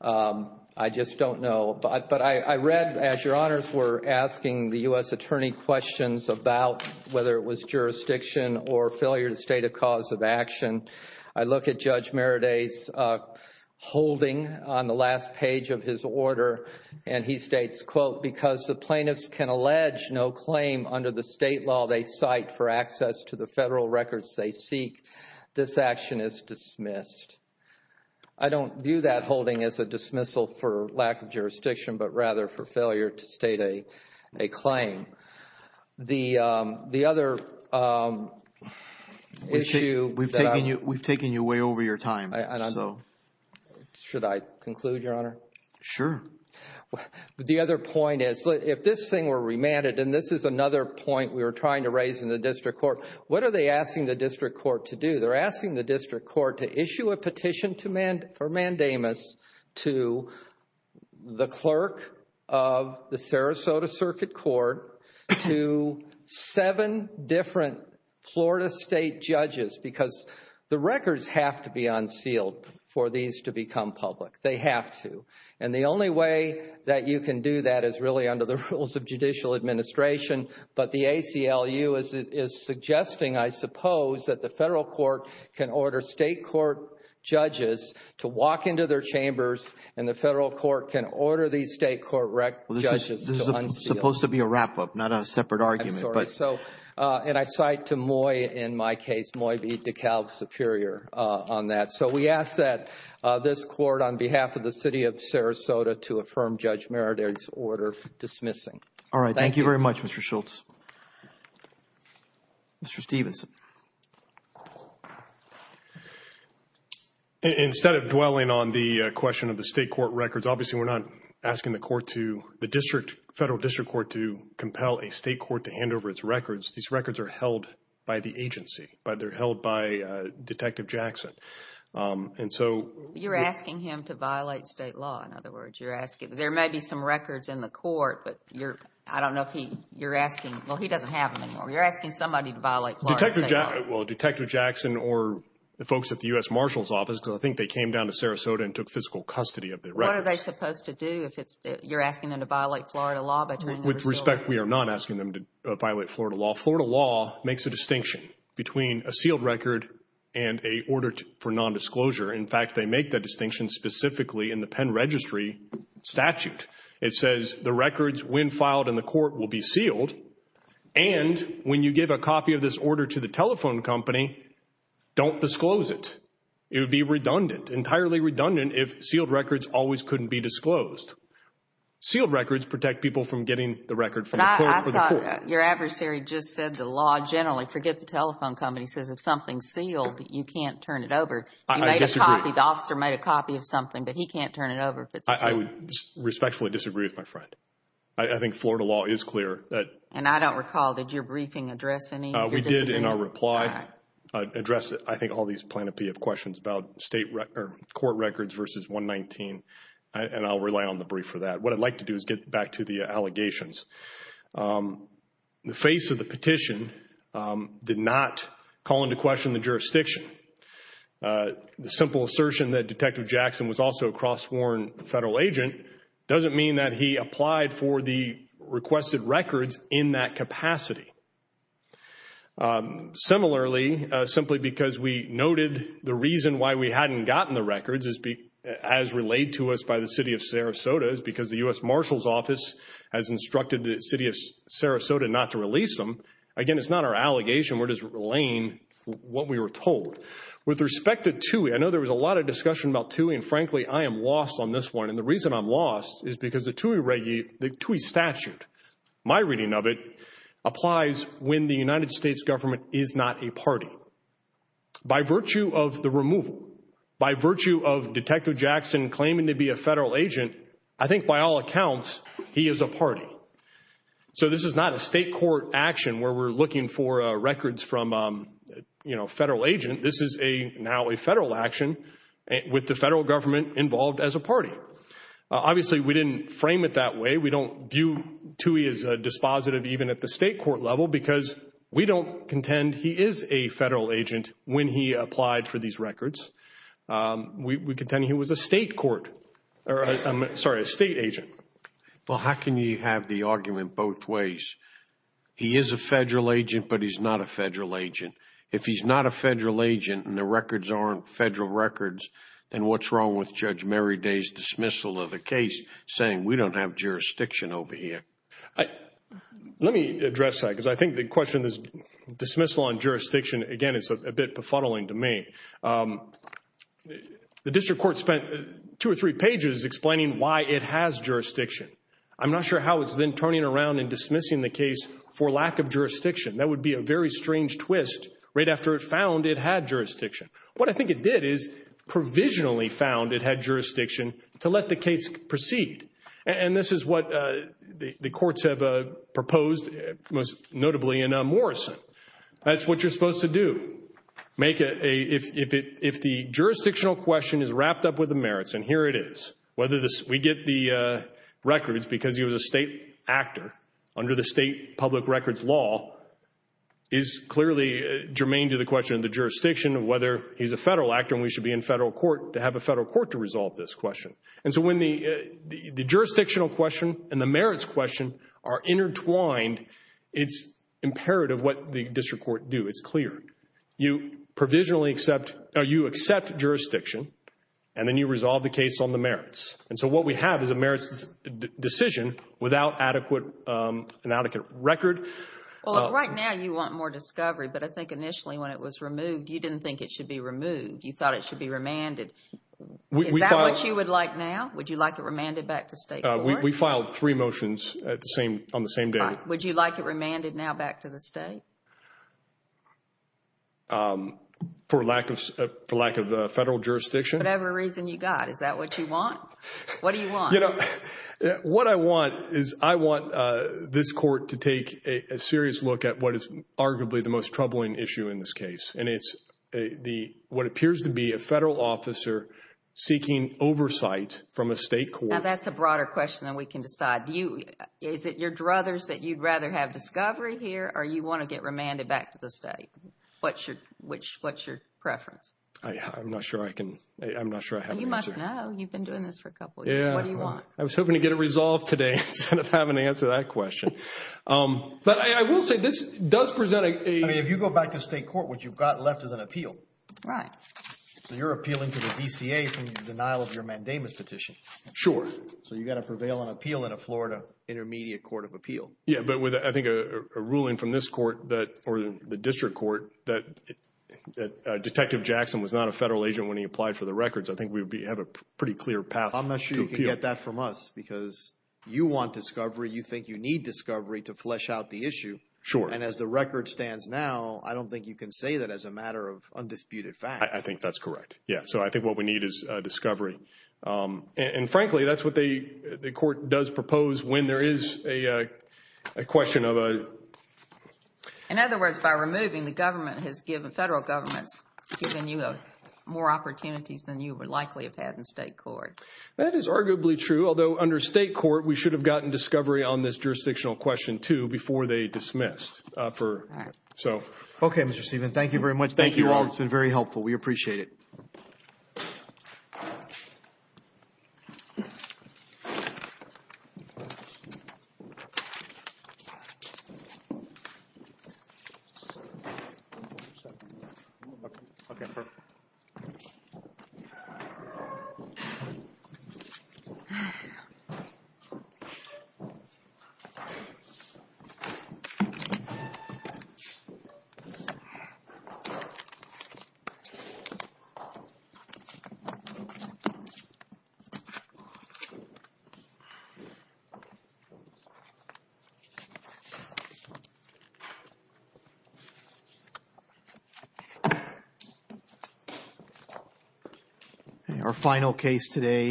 I just don't know. But I read, as Your Honors were asking the U.S. Attorney questions about whether it was jurisdiction or failure to state a cause of action. I look at Judge Meredith's holding on the last page of his order, and he states, quote, because the plaintiffs can allege no claim under the state law they cite for access to the federal records they seek, this action is dismissed. I don't view that holding as a dismissal for lack of jurisdiction, but rather for failure to state a claim. The other issue that I... We've taken you way over your time, so... Should I conclude, Your Honor? Sure. The other point is, if this thing were remanded, and this is another point we were trying to raise in the district court, what are they asking the district court to do? They're asking the district court to issue a petition for mandamus to the clerk of the Sarasota Circuit Court to seven different Florida state judges, because the records have to be unsealed for these to become public. They have to. And the only way that you can do that is really under the rules of judicial administration, but the ACLU is suggesting, I suppose, that the federal court can order state court judges to walk into their chambers, and the federal court can order these state court judges to unseal them. This is supposed to be a wrap-up, not a separate argument, but... I'm sorry. And I cite to Moy in my case, Moy v. DeKalb, Superior, on that. So we ask that this court, on behalf of the city of Sarasota, to affirm Judge Meredith's order for dismissing. All right. Thank you very much, Mr. Schultz. Mr. Stevenson. Instead of dwelling on the question of the state court records, obviously we're not asking the court to, the district, federal district court, to compel a state court to hand over its records. These records are held by the agency. They're held by Detective Jackson. And so... You're asking him to violate state law. In other words, you're asking, there may be some records in the court, but you're, I don't know if he, you're asking, well, he doesn't have them anymore. You're asking somebody to violate Florida state law. Well, Detective Jackson or the folks at the U.S. Marshal's office, because I think they came down to Sarasota and took physical custody of the records. What are they supposed to do if it's, you're asking them to violate Florida law by trying to... With respect, we are not asking them to violate Florida law. Florida law makes a distinction between a sealed record and a order for nondisclosure. In fact, they make that distinction specifically in the pen registry statute. It says the records, when filed in the court, will be sealed. And when you give a copy of this order to the telephone company, don't disclose it. It would be redundant, entirely redundant, if sealed records always couldn't be disclosed. Sealed records protect people from getting the record from the court. But I thought your adversary just said the law generally, forget the telephone company, says if something's sealed, you can't turn it over. I disagree. The officer made a copy of something, but he can't turn it over if it's a sealed record. I would respectfully disagree with my friend. I think Florida law is clear. And I don't recall, did your briefing address any of your disagreement? We did in our reply address, I think, all these plaintiff questions about court records versus 119. And I'll rely on the brief for that. What I'd like to do is get back to the allegations. The face of the petition did not call into question the jurisdiction. The simple assertion that Detective Jackson was also a cross-born federal agent doesn't mean that he applied for the requested records in that capacity. Similarly, simply because we noted the reason why we hadn't gotten the records, as relayed to us by the city of Sarasota, is because the U.S. Marshal's Office has instructed the city of Sarasota not to release them, again, it's not our allegation. We're just relaying what we were told. With respect to TUI, I know there was a lot of discussion about TUI, and frankly, I am lost on this one. And the reason I'm lost is because the TUI statute, my reading of it, applies when the United States government is not a party. By virtue of the removal, by virtue of Detective Jackson claiming to be a federal agent, I think by all accounts, he is a party. So this is not a state court action where we're looking for records from a federal agent. This is now a federal action with the federal government involved as a party. Obviously, we didn't frame it that way. We don't view TUI as a dispositive even at the state court level because we don't contend he is a federal agent when he applied for these records. We contend he was a state agent. Well, how can you have the argument both ways? He is a federal agent, but he's not a federal agent. If he's not a federal agent and the records aren't federal records, then what's wrong with Judge Merriday's dismissal of the case saying, we don't have jurisdiction over here? Let me address that because I think the question is dismissal on jurisdiction, again, is a bit befuddling to me. The district court spent two or three pages explaining why it has jurisdiction. I'm not sure how it's then turning around and dismissing the case for lack of jurisdiction. That would be a very strange twist right after it found it had jurisdiction. What I think it did is provisionally found it had jurisdiction to let the case proceed, and this is what the courts have proposed, most notably in Morrison. That's what you're supposed to do. If the jurisdictional question is wrapped up with the merits, and here it is, we get the records because he was a state actor under the state public records law, is clearly germane to the question of the jurisdiction of whether he's a federal actor and we should be in federal court to have a federal court to resolve this question. And so when the jurisdictional question and the merits question are intertwined, it's imperative what the district court do. It's clear. You accept jurisdiction, and then you resolve the case on the merits. And so what we have is a merits decision without an adequate record. Well, right now you want more discovery, but I think initially when it was removed, you didn't think it should be removed. You thought it should be remanded. Is that what you would like now? Would you like it remanded back to state court? We filed three motions on the same day. Would you like it remanded now back to the state? For lack of federal jurisdiction. Whatever reason you got. Is that what you want? What do you want? What I want is I want this court to take a serious look at what is arguably the most troubling issue in this case, and it's what appears to be a federal officer seeking oversight from a state court. Now that's a broader question than we can decide. Is it your druthers that you'd rather have discovery here, or you want to get remanded back to the state? What's your preference? I'm not sure I have an answer. You must know. You've been doing this for a couple years. What do you want? I was hoping to get it resolved today instead of having to answer that question. But I will say this does present a – I mean, if you go back to state court, what you've got left is an appeal. Right. So you're appealing to the DCA for the denial of your mandamus petition. Sure. So you've got to prevail on appeal in a Florida intermediate court of appeal. Yeah, but I think a ruling from this court or the district court that Detective Jackson was not a federal agent when he applied for the records, I think we have a pretty clear path to appeal. I'm not sure you can get that from us because you want discovery. You think you need discovery to flesh out the issue. Sure. And as the record stands now, I don't think you can say that as a matter of undisputed fact. I think that's correct. Yeah, so I think what we need is discovery. And, frankly, that's what the court does propose when there is a question of a – In other words, by removing, the government has given – federal government has given you more opportunities than you would likely have had in state court. That is arguably true, although under state court, we should have gotten discovery on this jurisdictional question too before they dismissed. All right. Okay, Mr. Stevenson, thank you very much. Thank you all. It's been very helpful. We appreciate it. Thank you. Thank you. Our final case today –